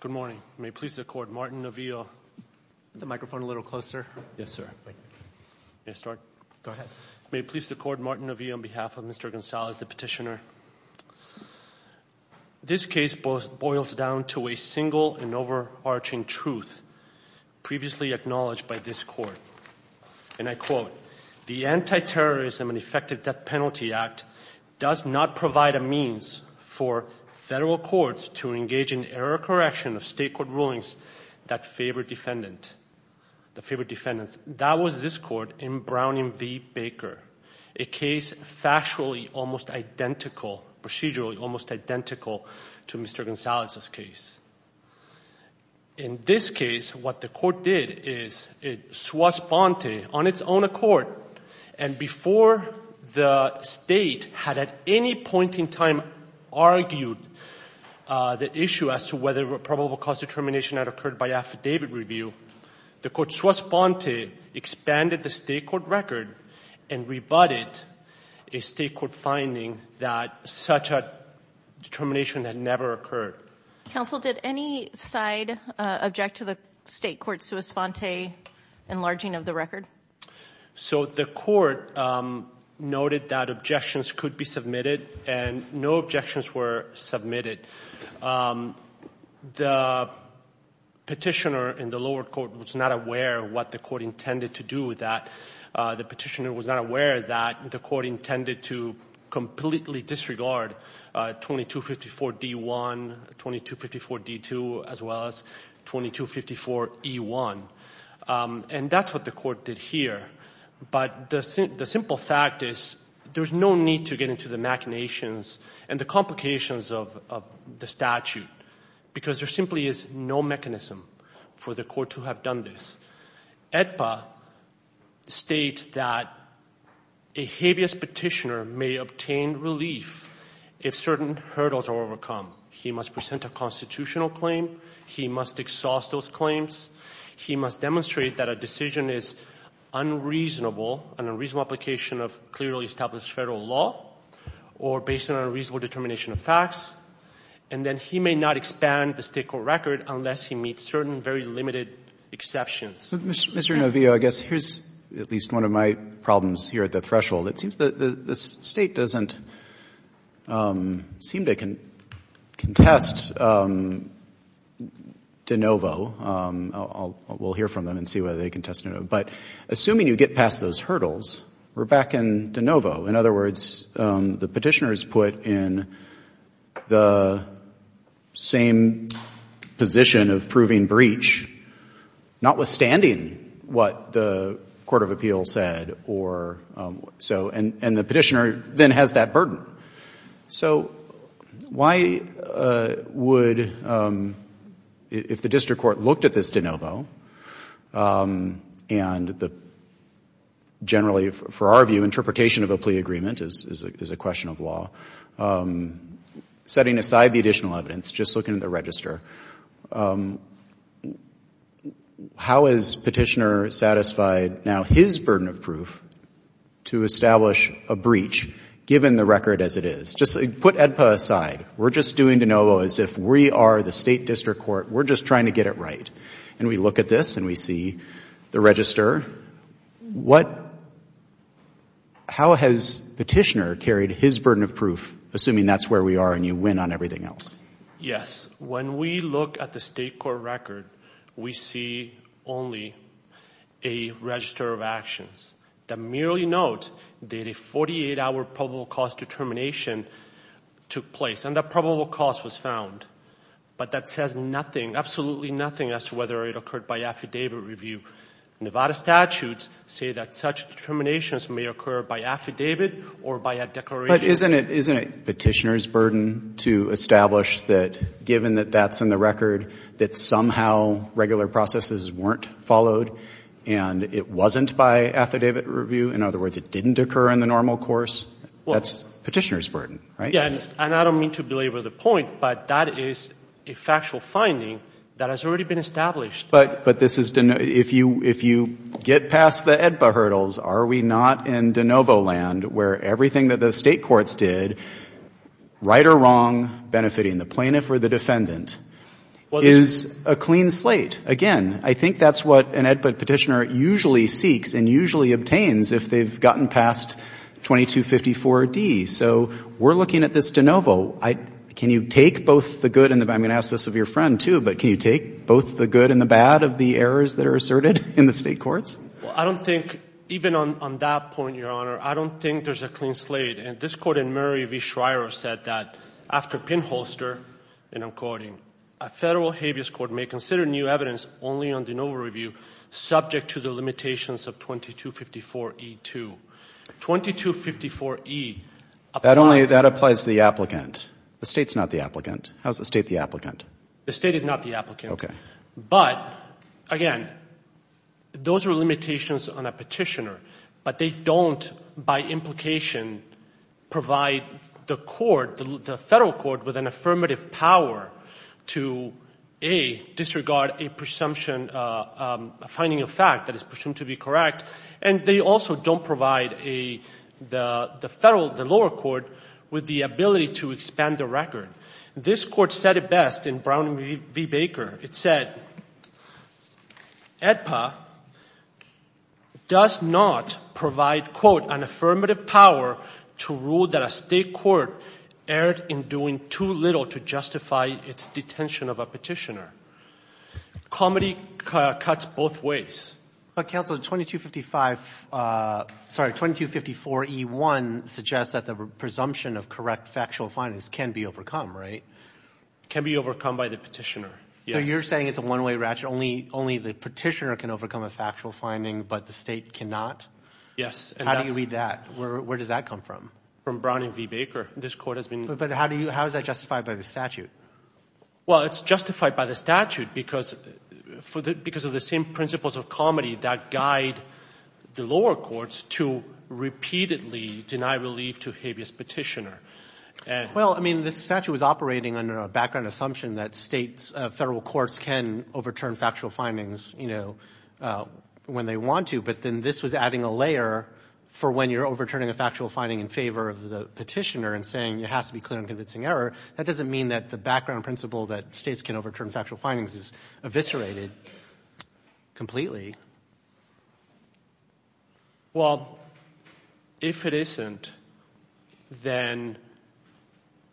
Good morning. May it please the court, Martin Navia, on behalf of Mr. Gonzales, the petitioner. This case boils down to a single and overarching truth previously acknowledged by this court, and I quote, The Anti-Terrorism and Effective Death Penalty Act does not provide a means for federal courts to engage in error correction of state court rulings that favor defendants. That was this court in Brown v. Baker, a case factually almost identical, procedurally almost identical to Mr. Gonzales' case. In this case, what the court did is it swastbante on its own accord, and before the state had at any point in time argued the issue as to whether probable cause determination had occurred by affidavit review, the court swastbante expanded the state court record and rebutted a state court finding that such a determination had never occurred. Counsel, did any side object to the state court swastbante enlarging of the record? So the court noted that objections could be submitted, and no objections were submitted. The petitioner in the lower court was not aware of what the court intended to do with that. The petitioner was not aware that the court intended to completely disregard 2254-D1, 2254-D2, as well as 2254-E1, and that's what the court did here. But the simple fact is there's no need to get into the machinations and the complications of the statute because there simply is no mechanism for the court to have done this. AEDPA states that a habeas petitioner may obtain relief if certain hurdles are overcome. He must present a constitutional claim. He must exhaust those claims. He must demonstrate that a decision is unreasonable, an unreasonable application of clearly established Federal law or based on unreasonable determination of facts. And then he may not expand the state court record unless he meets certain very limited exceptions. Mr. Novio, I guess here's at least one of my problems here at the threshold. It seems that the State doesn't seem to contest de novo. We'll hear from them and see whether they contest de novo. But assuming you get past those hurdles, we're back in de novo. In other words, the petitioner is put in the same position of proving breach, notwithstanding what the court of appeal said or so. And the petitioner then has that burden. So why would, if the district court looked at this de novo and the generally, for our view, interpretation of a plea agreement is a question of law, setting aside the additional evidence, just looking at the register, how is petitioner satisfied now his burden of proof to establish a breach, given the record as it is? Just put AEDPA aside. We're just doing de novo as if we are the State district court. We're just trying to get it right. And we look at this and we see the register. How has petitioner carried his burden of proof, assuming that's where we are and you win on everything else? Yes. When we look at the State court record, we see only a register of actions that merely note that a 48-hour probable cause determination took place. And that probable cause was found. But that says nothing, absolutely nothing, as to whether it occurred by affidavit review. Nevada statutes say that such determinations may occur by affidavit or by a declaration. But isn't it petitioner's burden to establish that, given that that's in the record, that somehow regular processes weren't followed and it wasn't by affidavit review? In other words, it didn't occur in the normal course? That's petitioner's burden, right? Yes. And I don't mean to belabor the point, but that is a factual finding that has already been established. But this is, if you get past the AEDPA hurdles, are we not in de novo land where everything that the State courts did, right or wrong, benefiting the plaintiff or the defendant, is a clean slate? Again, I think that's what an AEDPA petitioner usually seeks and usually obtains if they've gotten past 2254D. So we're looking at this de novo. Can you take both the good and the bad? I'm going to ask this of your friend, too, but can you take both the good and the bad of the errors that are asserted in the State courts? Well, I don't think, even on that point, Your Honor, I don't think there's a clean slate. And this Court in Murray v. Schreyer said that, after pinholster, and I'm quoting, a Federal habeas court may consider new evidence only on de novo review subject to the limitations of 2254E2. 2254E applies to the applicant. The State's not the applicant. How is the State the applicant? The State is not the applicant. Okay. But, again, those are limitations on a petitioner. But they don't, by implication, provide the court, the Federal court, with an affirmative power to, A, disregard a presumption, a finding of fact that is presumed to be correct. And they also don't provide the Federal, the lower court, with the ability to expand the record. This Court said it best in Brown v. Baker. It said, EDPA does not provide, quote, an affirmative power to rule that a State court erred in doing too little to justify its detention of a petitioner. Comedy cuts both ways. But, counsel, 2255 — sorry, 2254E1 suggests that the presumption of correct factual findings can be overcome, right? Can be overcome by the petitioner, yes. So you're saying it's a one-way ratchet? Only the petitioner can overcome a factual finding, but the State cannot? Yes. How do you read that? Where does that come from? From Brown v. Baker. This Court has been — But how do you — how is that justified by the statute? Well, it's justified by the statute because of the same principles of comedy that guide the lower courts to repeatedly deny relief to a habeas petitioner. Well, I mean, the statute was operating under a background assumption that States, Federal courts can overturn factual findings, you know, when they want to. But then this was adding a layer for when you're overturning a factual finding in favor of the petitioner and saying it has to be clear and convincing error. That doesn't mean that the background principle that States can overturn factual findings is eviscerated completely. Well, if it isn't, then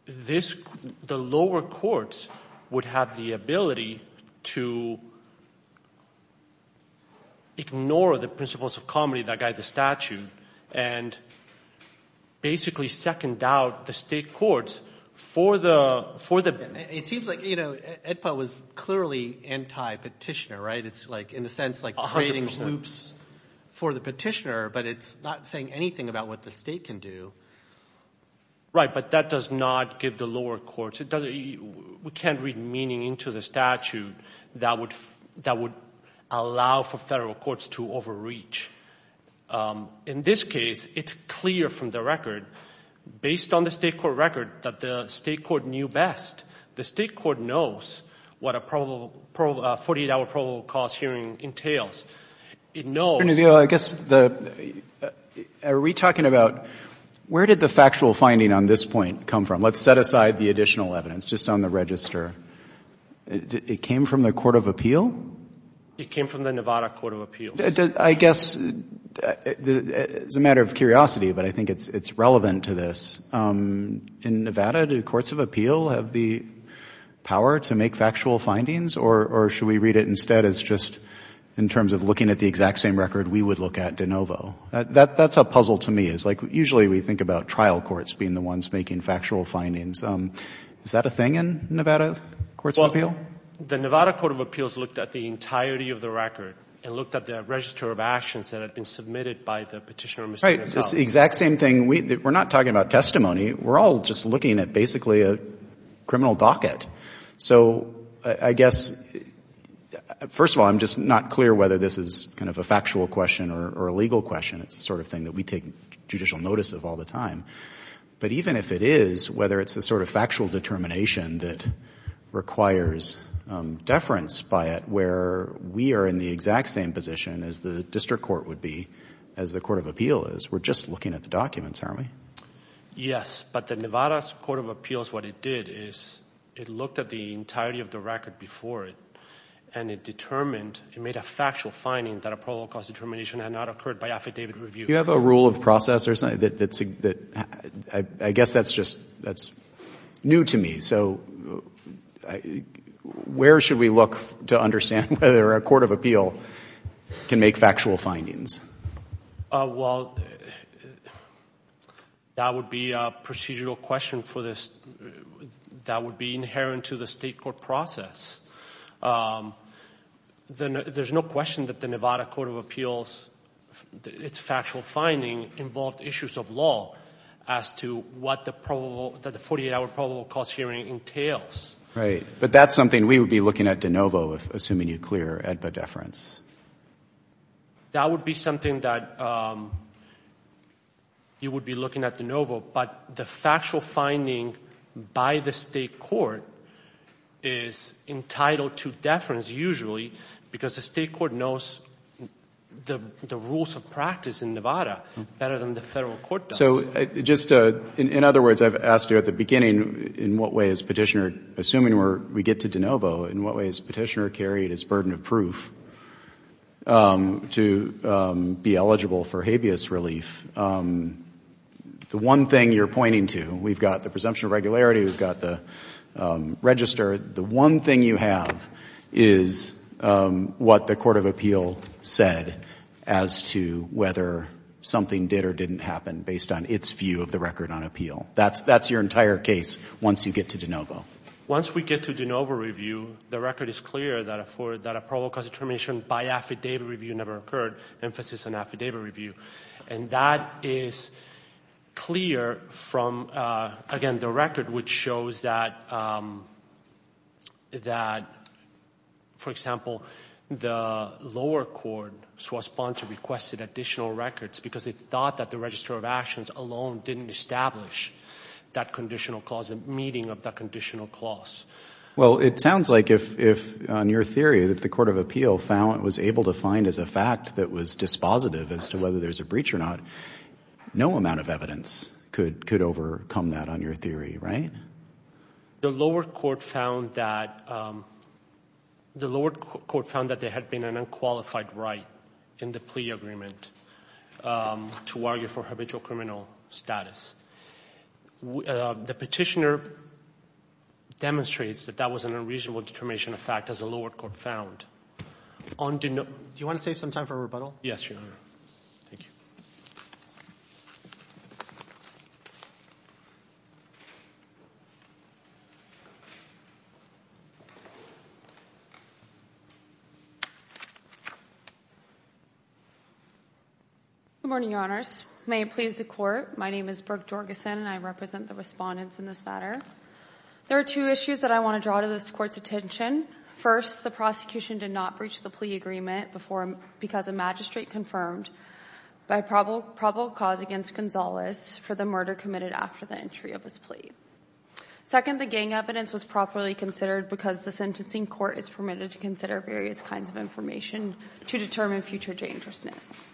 this — the lower courts would have the ability to ignore the principles of comedy that guide the statute and basically second out the State courts for the — It seems like, you know, AEDPA was clearly anti-petitioner, right? It's like, in a sense, like creating loops for the petitioner, but it's not saying anything about what the State can do. Right, but that does not give the lower courts — we can't read meaning into the statute that would allow for Federal courts to overreach. In this case, it's clear from the record, based on the State court record, that the State court knew best. The State court knows what a 48-hour probable cause hearing entails. It knows — Attorney General, I guess the — are we talking about — where did the factual finding on this point come from? Let's set aside the additional evidence, just on the register. It came from the court of appeal? It came from the Nevada court of appeals. I guess it's a matter of curiosity, but I think it's relevant to this. In Nevada, do courts of appeal have the power to make factual findings, or should we read it instead as just in terms of looking at the exact same record we would look at de novo? That's a puzzle to me. It's like, usually we think about trial courts being the ones making factual findings. Is that a thing in Nevada courts of appeal? The Nevada court of appeals looked at the entirety of the record and looked at the register of actions that had been submitted by the Petitioner, Mr. Rizzo. It's the exact same thing. We're not talking about testimony. We're all just looking at basically a criminal docket. So I guess, first of all, I'm just not clear whether this is kind of a factual question or a legal question. It's the sort of thing that we take judicial notice of all the time. But even if it is, whether it's the sort of factual determination that requires deference by it where we are in the exact same position as the district court would be, as the court of appeal is, we're just looking at the documents, aren't we? Yes, but the Nevada court of appeals, what it did is it looked at the entirety of the record before it, and it determined, it made a factual finding that a probable cause determination had not occurred by affidavit review. Do you have a rule of process or something? I guess that's just new to me. So where should we look to understand whether a court of appeal can make factual findings? Well, that would be a procedural question for this. That would be inherent to the state court process. There's no question that the Nevada court of appeals, its factual finding involved issues of law as to what the 48-hour probable cause hearing entails. Right. But that's something we would be looking at de novo, assuming you clear AEDPA deference. That would be something that you would be looking at de novo, but the factual finding by the state court is entitled to deference usually because the state court knows the rules of practice in Nevada better than the federal court does. In other words, I've asked you at the beginning, in what way has Petitioner, assuming we get to de novo, in what way has Petitioner carried his burden of proof to be eligible for habeas relief? The one thing you're pointing to, we've got the presumption of regularity, we've got the register. The one thing you have is what the court of appeal said as to whether something did or didn't happen based on its view of the record on appeal. That's your entire case once you get to de novo. Once we get to de novo review, the record is clear that a probable cause determination by affidavit review never occurred, emphasis on affidavit review. And that is clear from, again, the record which shows that, for example, the lower court, so a sponsor requested additional records because they thought that the register of actions alone didn't establish that conditional cause, the meaning of that conditional clause. Well, it sounds like if, on your theory, that the court of appeal was able to find as a fact that was dispositive as to whether there's a breach or not, no amount of evidence could overcome that on your theory, right? The lower court found that there had been an unqualified right in the plea agreement to argue for habitual criminal status. The petitioner demonstrates that that was an unreasonable determination of fact, as the lower court found. Do you want to save some time for rebuttal? Yes, Your Honor. Thank you. Good morning, Your Honors. May it please the Court. My name is Brooke Jorgensen, and I represent the respondents in this matter. There are two issues that I want to draw to this Court's attention. First, the prosecution did not breach the plea agreement because a magistrate confirmed by probable cause against Gonzalez for the murder committed after the entry of his plea. Second, the gang evidence was properly considered because the sentencing court is permitted to consider various kinds of information to determine future dangerousness.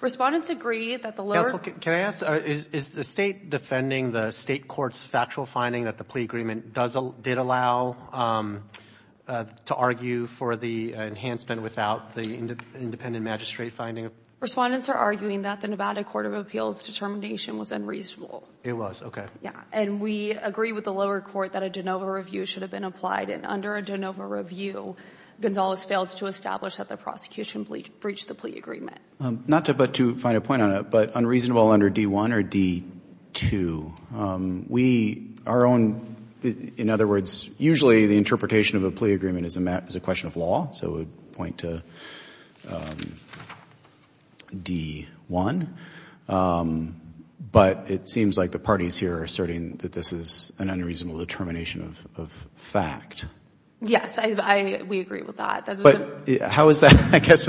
Respondents agree that the lower court— Can I ask, is the State defending the State court's factual finding that the plea agreement did allow to argue for the enhancement without the independent magistrate finding? Respondents are arguing that the Nevada Court of Appeals' determination was unreasonable. It was, okay. Yeah, and we agree with the lower court that a de novo review should have been applied, and under a de novo review, Gonzalez fails to establish that the prosecution breached the plea agreement. Not to find a point on it, but unreasonable under D-1 or D-2. We, our own, in other words, usually the interpretation of a plea agreement is a question of law, so we would point to D-1. But it seems like the parties here are asserting that this is an unreasonable determination of fact. Yes, we agree with that. But how is that, I guess,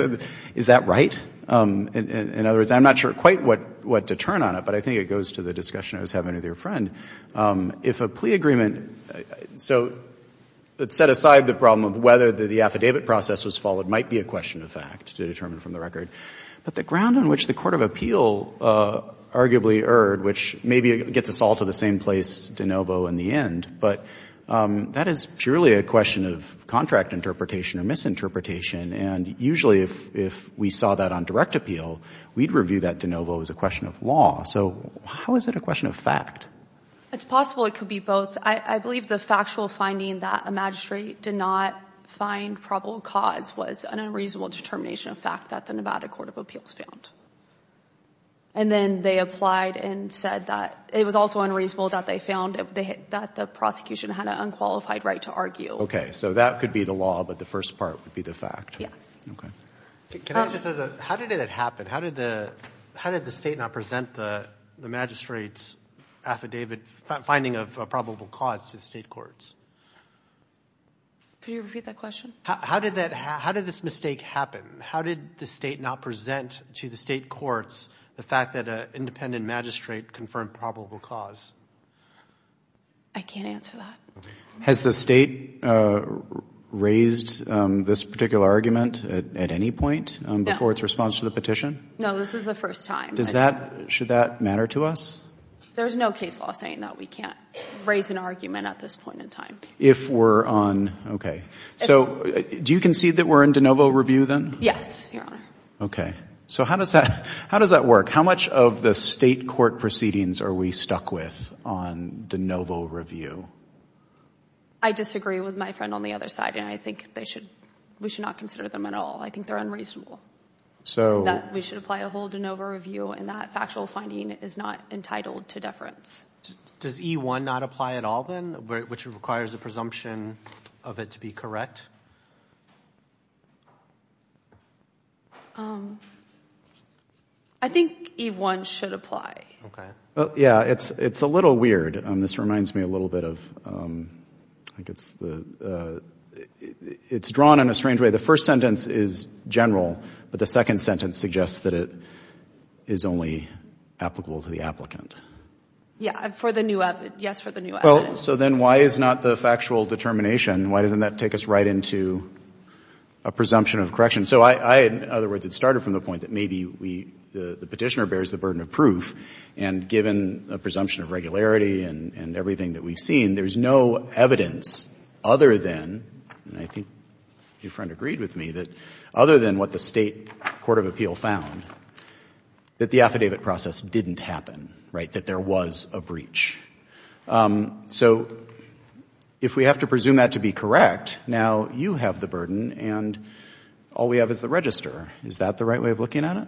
is that right? In other words, I'm not sure quite what to turn on it, but I think it goes to the discussion I was having with your friend. If a plea agreement, so set aside the problem of whether the affidavit process was followed might be a question of fact to determine from the record. But the ground on which the court of appeal arguably erred, which maybe gets us all to the same place de novo in the end, but that is purely a question of contract interpretation or misinterpretation. And usually if we saw that on direct appeal, we'd review that de novo as a question of law. So how is it a question of fact? It's possible it could be both. I believe the factual finding that a magistrate did not find probable cause was an unreasonable determination of fact that the Nevada Court of Appeals found. And then they applied and said that it was also unreasonable that they found that the prosecution had an unqualified right to argue. Okay, so that could be the law, but the first part would be the fact. Yes. Okay. How did it happen? How did the state not present the magistrate's affidavit finding of probable cause to state courts? Could you repeat that question? How did this mistake happen? How did the state not present to the state courts the fact that an independent magistrate confirmed probable cause? I can't answer that. Has the state raised this particular argument at any point before its response to the petition? No, this is the first time. Should that matter to us? There's no case law saying that we can't raise an argument at this point in time. If we're on, okay. So do you concede that we're in de novo review then? Yes, Your Honor. Okay. So how does that work? How much of the state court proceedings are we stuck with on de novo review? I disagree with my friend on the other side, and I think we should not consider them at all. I think they're unreasonable. We should apply a whole de novo review, and that factual finding is not entitled to deference. Does E-1 not apply at all then, which requires a presumption of it to be correct? I think E-1 should apply. Yeah, it's a little weird. This reminds me a little bit of, I think it's the, it's drawn in a strange way. The first sentence is general, but the second sentence suggests that it is only applicable to the applicant. Yeah, for the new evidence, yes, for the new evidence. Well, so then why is not the factual determination, why doesn't that take us right into a presumption of correction? So I, in other words, it started from the point that maybe we, the petitioner bears the burden of proof, and given a presumption of regularity and everything that we've seen, there's no evidence other than, and I think your friend agreed with me, that other than what the state court of appeal found, that the affidavit process didn't happen, right, that there was a breach. So if we have to presume that to be correct, now you have the burden and all we have is the register. Is that the right way of looking at it?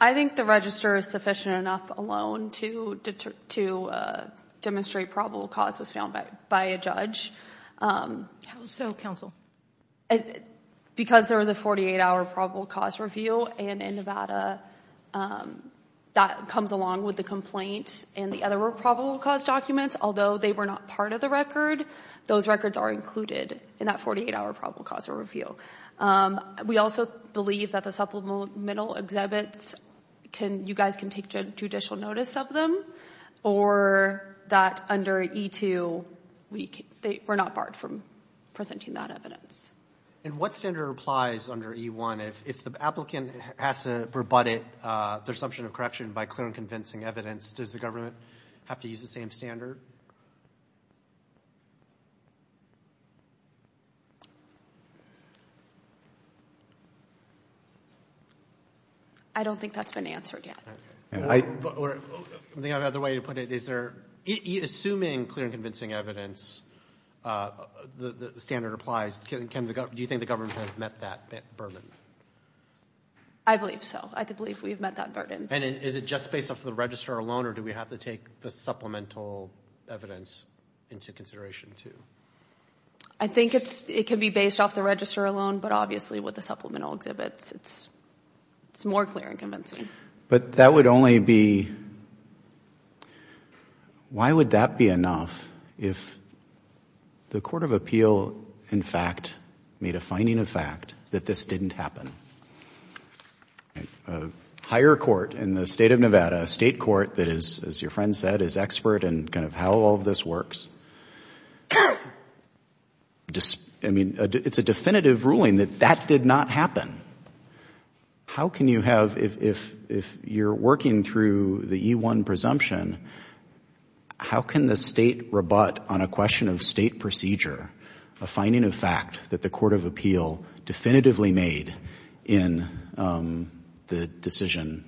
I think the register is sufficient enough alone to demonstrate probable cause was found by a judge. How so, counsel? Because there was a 48-hour probable cause review, and in Nevada that comes along with the complaint and the other probable cause documents, although they were not part of the record, those records are included in that 48-hour probable cause review. We also believe that the supplemental exhibits, you guys can take judicial notice of them, or that under E-2 we're not barred from presenting that evidence. And what standard applies under E-1 if the applicant has to rebut their assumption of correction by clear and convincing evidence, does the government have to use the same standard? I don't think that's been answered yet. I think I have another way to put it. Assuming clear and convincing evidence, the standard applies, do you think the government has met that burden? I believe so. I believe we have met that burden. And is it just based off the register alone, or do we have to take the supplemental evidence into consideration too? I think it can be based off the register alone, but obviously with the supplemental exhibits, it's more clear and convincing. But that would only be, why would that be enough if the court of appeal, in fact, made a finding of fact that this didn't happen? A higher court in the state of Nevada, a state court that is, as your friend said, is expert in kind of how all of this works, I mean, it's a definitive ruling that that did not happen. How can you have, if you're working through the E-1 presumption, how can the state rebut on a question of state procedure a finding of fact that the court of appeal definitively made in the decision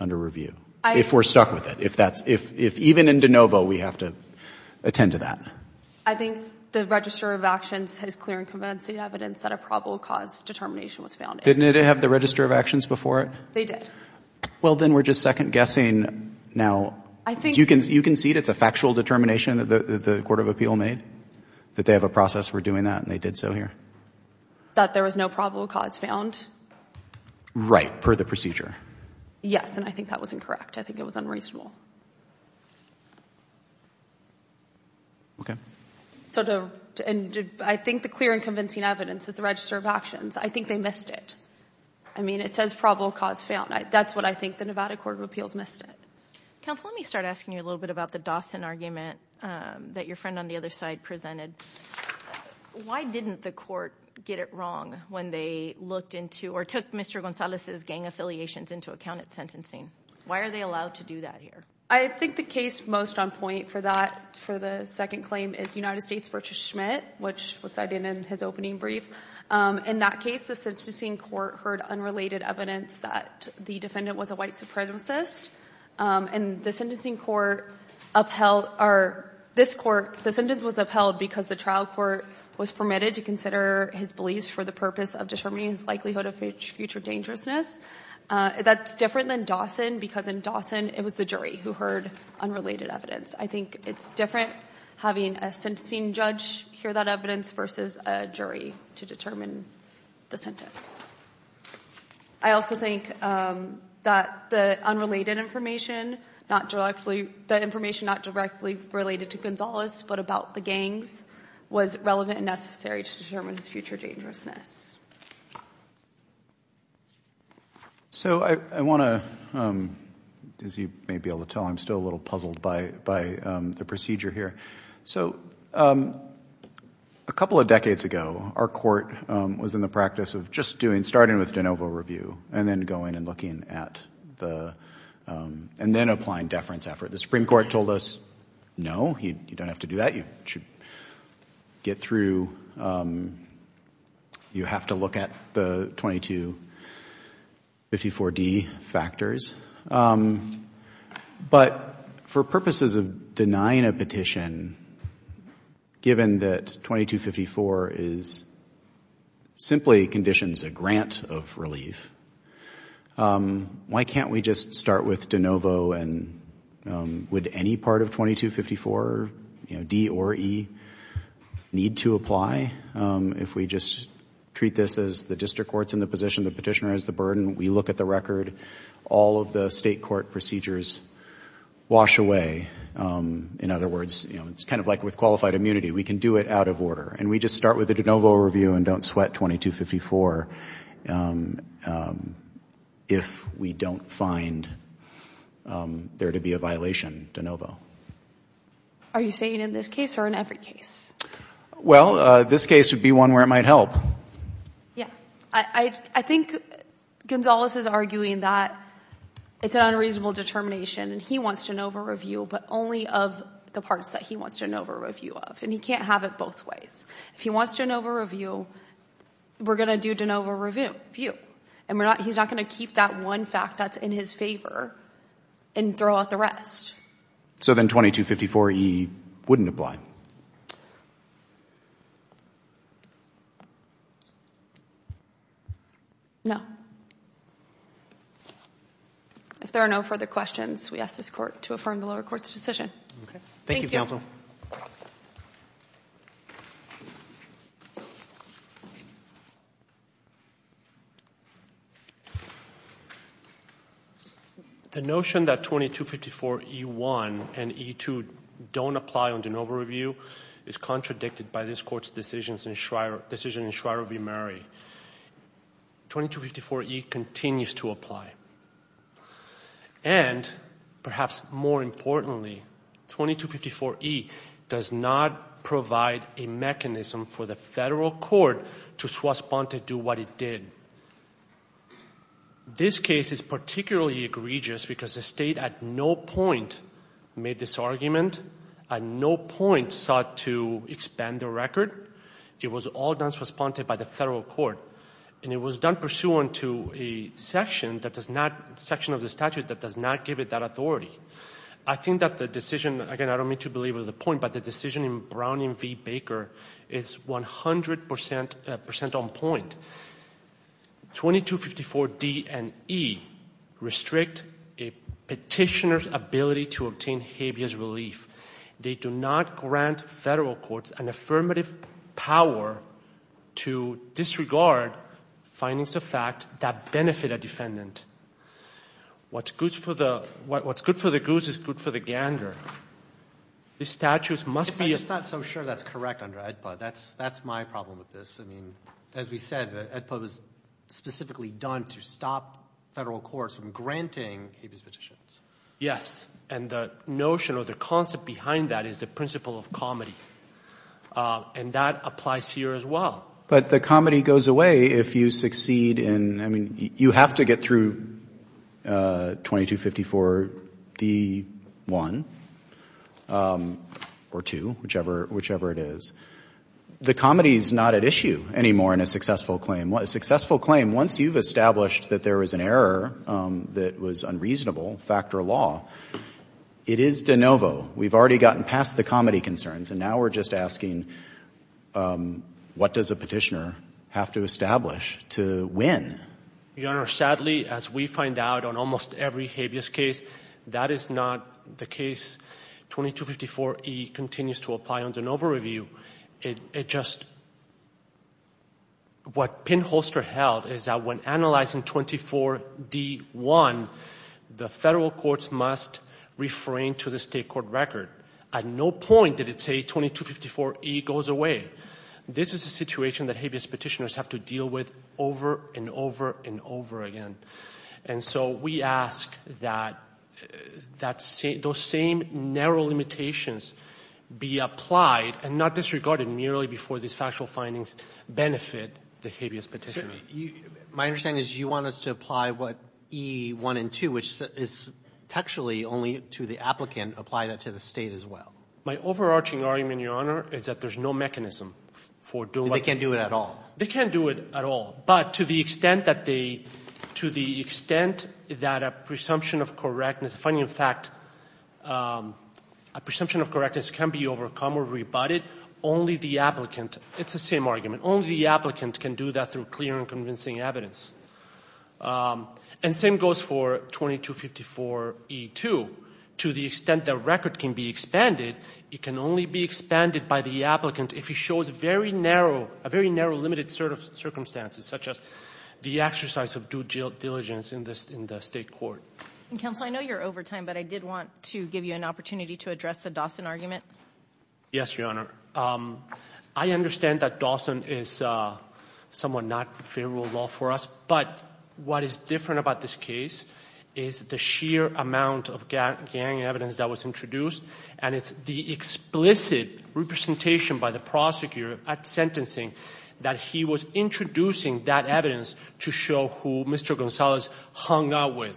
under review? If we're stuck with it. If even in De Novo we have to attend to that. I think the register of actions has clear and convincing evidence that a probable cause determination was found in. Didn't it have the register of actions before it? They did. Well, then we're just second-guessing now. You concede it's a factual determination that the court of appeal made, that they have a process for doing that and they did so here? That there was no probable cause found? Right, per the procedure. Yes, and I think that was incorrect. I think it was unreasonable. Okay. I think the clear and convincing evidence is the register of actions. I think they missed it. I mean, it says probable cause found. That's what I think the Nevada court of appeals missed it. Counsel, let me start asking you a little bit about the Dawson argument that your friend on the other side presented. Why didn't the court get it wrong when they looked into or took Mr. Gonzalez's gang affiliations into account at sentencing? Why are they allowed to do that here? I think the case most on point for that, for the second claim, is United States v. Schmidt, which was cited in his opening brief. In that case, the sentencing court heard unrelated evidence that the defendant was a white supremacist, and the sentence was upheld because the trial court was permitted to consider his beliefs for the purpose of determining his likelihood of future dangerousness. That's different than Dawson because in Dawson it was the jury who heard unrelated evidence. I think it's different having a sentencing judge hear that evidence versus a jury to determine the sentence. I also think that the unrelated information, the information not directly related to Gonzalez but about the gangs, was relevant and necessary to determine his future dangerousness. I want to, as you may be able to tell, I'm still a little puzzled by the procedure here. A couple of decades ago, our court was in the practice of just doing, starting with de novo review and then going and looking at the, and then applying deference effort. The Supreme Court told us, no, you don't have to do that. You should get through. You have to look at the 2254D factors. But for purposes of denying a petition, given that 2254 simply conditions a grant of relief, why can't we just start with de novo and would any part of 2254, D or E, need to apply? If we just treat this as the district court's in the position, the petitioner has the burden, we look at the record, all of the state court procedures wash away. In other words, it's kind of like with qualified immunity. We can do it out of order, and we just start with a de novo review and don't sweat 2254 if we don't find there to be a violation de novo. Are you saying in this case or in every case? Well, this case would be one where it might help. Yeah. I think Gonzales is arguing that it's an unreasonable determination, and he wants de novo review, but only of the parts that he wants de novo review of, and he can't have it both ways. If he wants de novo review, we're going to do de novo review, and he's not going to keep that one fact that's in his favor and throw out the rest. So then 2254E wouldn't apply? No. If there are no further questions, we ask this court to affirm the lower court's decision. Thank you, counsel. Thank you. The notion that 2254E1 and 2254E2 don't apply on de novo review is contradicted by this court's decision in Shriver v. Murray. 2254E continues to apply. And perhaps more importantly, 2254E does not provide a mechanism for the federal court to swastika do what it did. This case is particularly egregious because the state at no point made this argument, at no point sought to expand the record. It was all done swastika by the federal court, and it was done pursuant to a section of the statute that does not give it that authority. I think that the decision, again, I don't mean to belabor the point, but the decision in Brown v. Baker is 100% on point. 2254D and 2254E restrict a petitioner's ability to obtain habeas relief. They do not grant federal courts an affirmative power to disregard findings of fact that benefit a defendant. What's good for the goose is good for the gander. The statute must be... I'm just not so sure that's correct under AEDPA. That's my problem with this. I mean, as we said, AEDPA was specifically done to stop federal courts from granting habeas petitions. Yes, and the notion or the concept behind that is the principle of comedy, and that applies here as well. But the comedy goes away if you succeed in... I mean, you have to get through 2254D1 or 2, whichever it is. The comedy's not at issue anymore in a successful claim. A successful claim, once you've established that there was an error that was unreasonable, fact or law, it is de novo. We've already gotten past the comedy concerns, and now we're just asking, what does a petitioner have to establish to win? Your Honor, sadly, as we find out on almost every habeas case, that is not the case. 2254E continues to apply under de novo review. It just... What Pinholster held is that when analyzing 24D1, the federal courts must refrain to the state court record. At no point did it say 2254E goes away. This is a situation that habeas petitioners have to deal with over and over and over again. And so we ask that those same narrow limitations be applied and not disregarded merely before these factual findings benefit the habeas petitioner. My understanding is you want us to apply what E1 and 2, which is textually only to the applicant, and apply that to the State as well. My overarching argument, Your Honor, is that there's no mechanism for doing what... They can't do it at all. They can't do it at all. But to the extent that they... To the extent that a presumption of correctness... Funny fact, a presumption of correctness can be overcome or rebutted. Only the applicant... It's the same argument. Only the applicant can do that through clear and convincing evidence. And the same goes for 2254E2. To the extent the record can be expanded, it can only be expanded by the applicant if he shows a very narrow, a very narrow limited set of circumstances, such as the exercise of due diligence in the State court. Counsel, I know you're over time, but I did want to give you an opportunity to address the Dawson argument. Yes, Your Honor. I understand that Dawson is somewhat not favorable law for us, but what is different about this case is the sheer amount of gang evidence that was introduced, and it's the explicit representation by the prosecutor at sentencing that he was introducing that evidence to show who Mr. Gonzalez hung out with.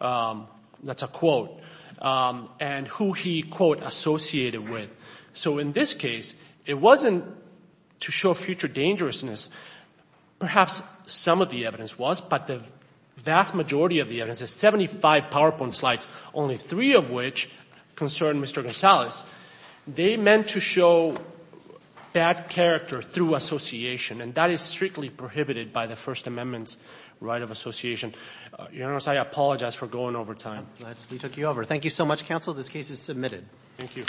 That's a quote. And who he, quote, associated with. So in this case, it wasn't to show future dangerousness. Perhaps some of the evidence was, but the vast majority of the evidence, the 75 PowerPoint slides, only three of which concern Mr. Gonzalez, they meant to show bad character through association, and that is strictly prohibited by the First Amendment's right of association. Your Honor, I apologize for going over time. We took you over. Thank you so much, Counsel. This case is submitted. Thank you.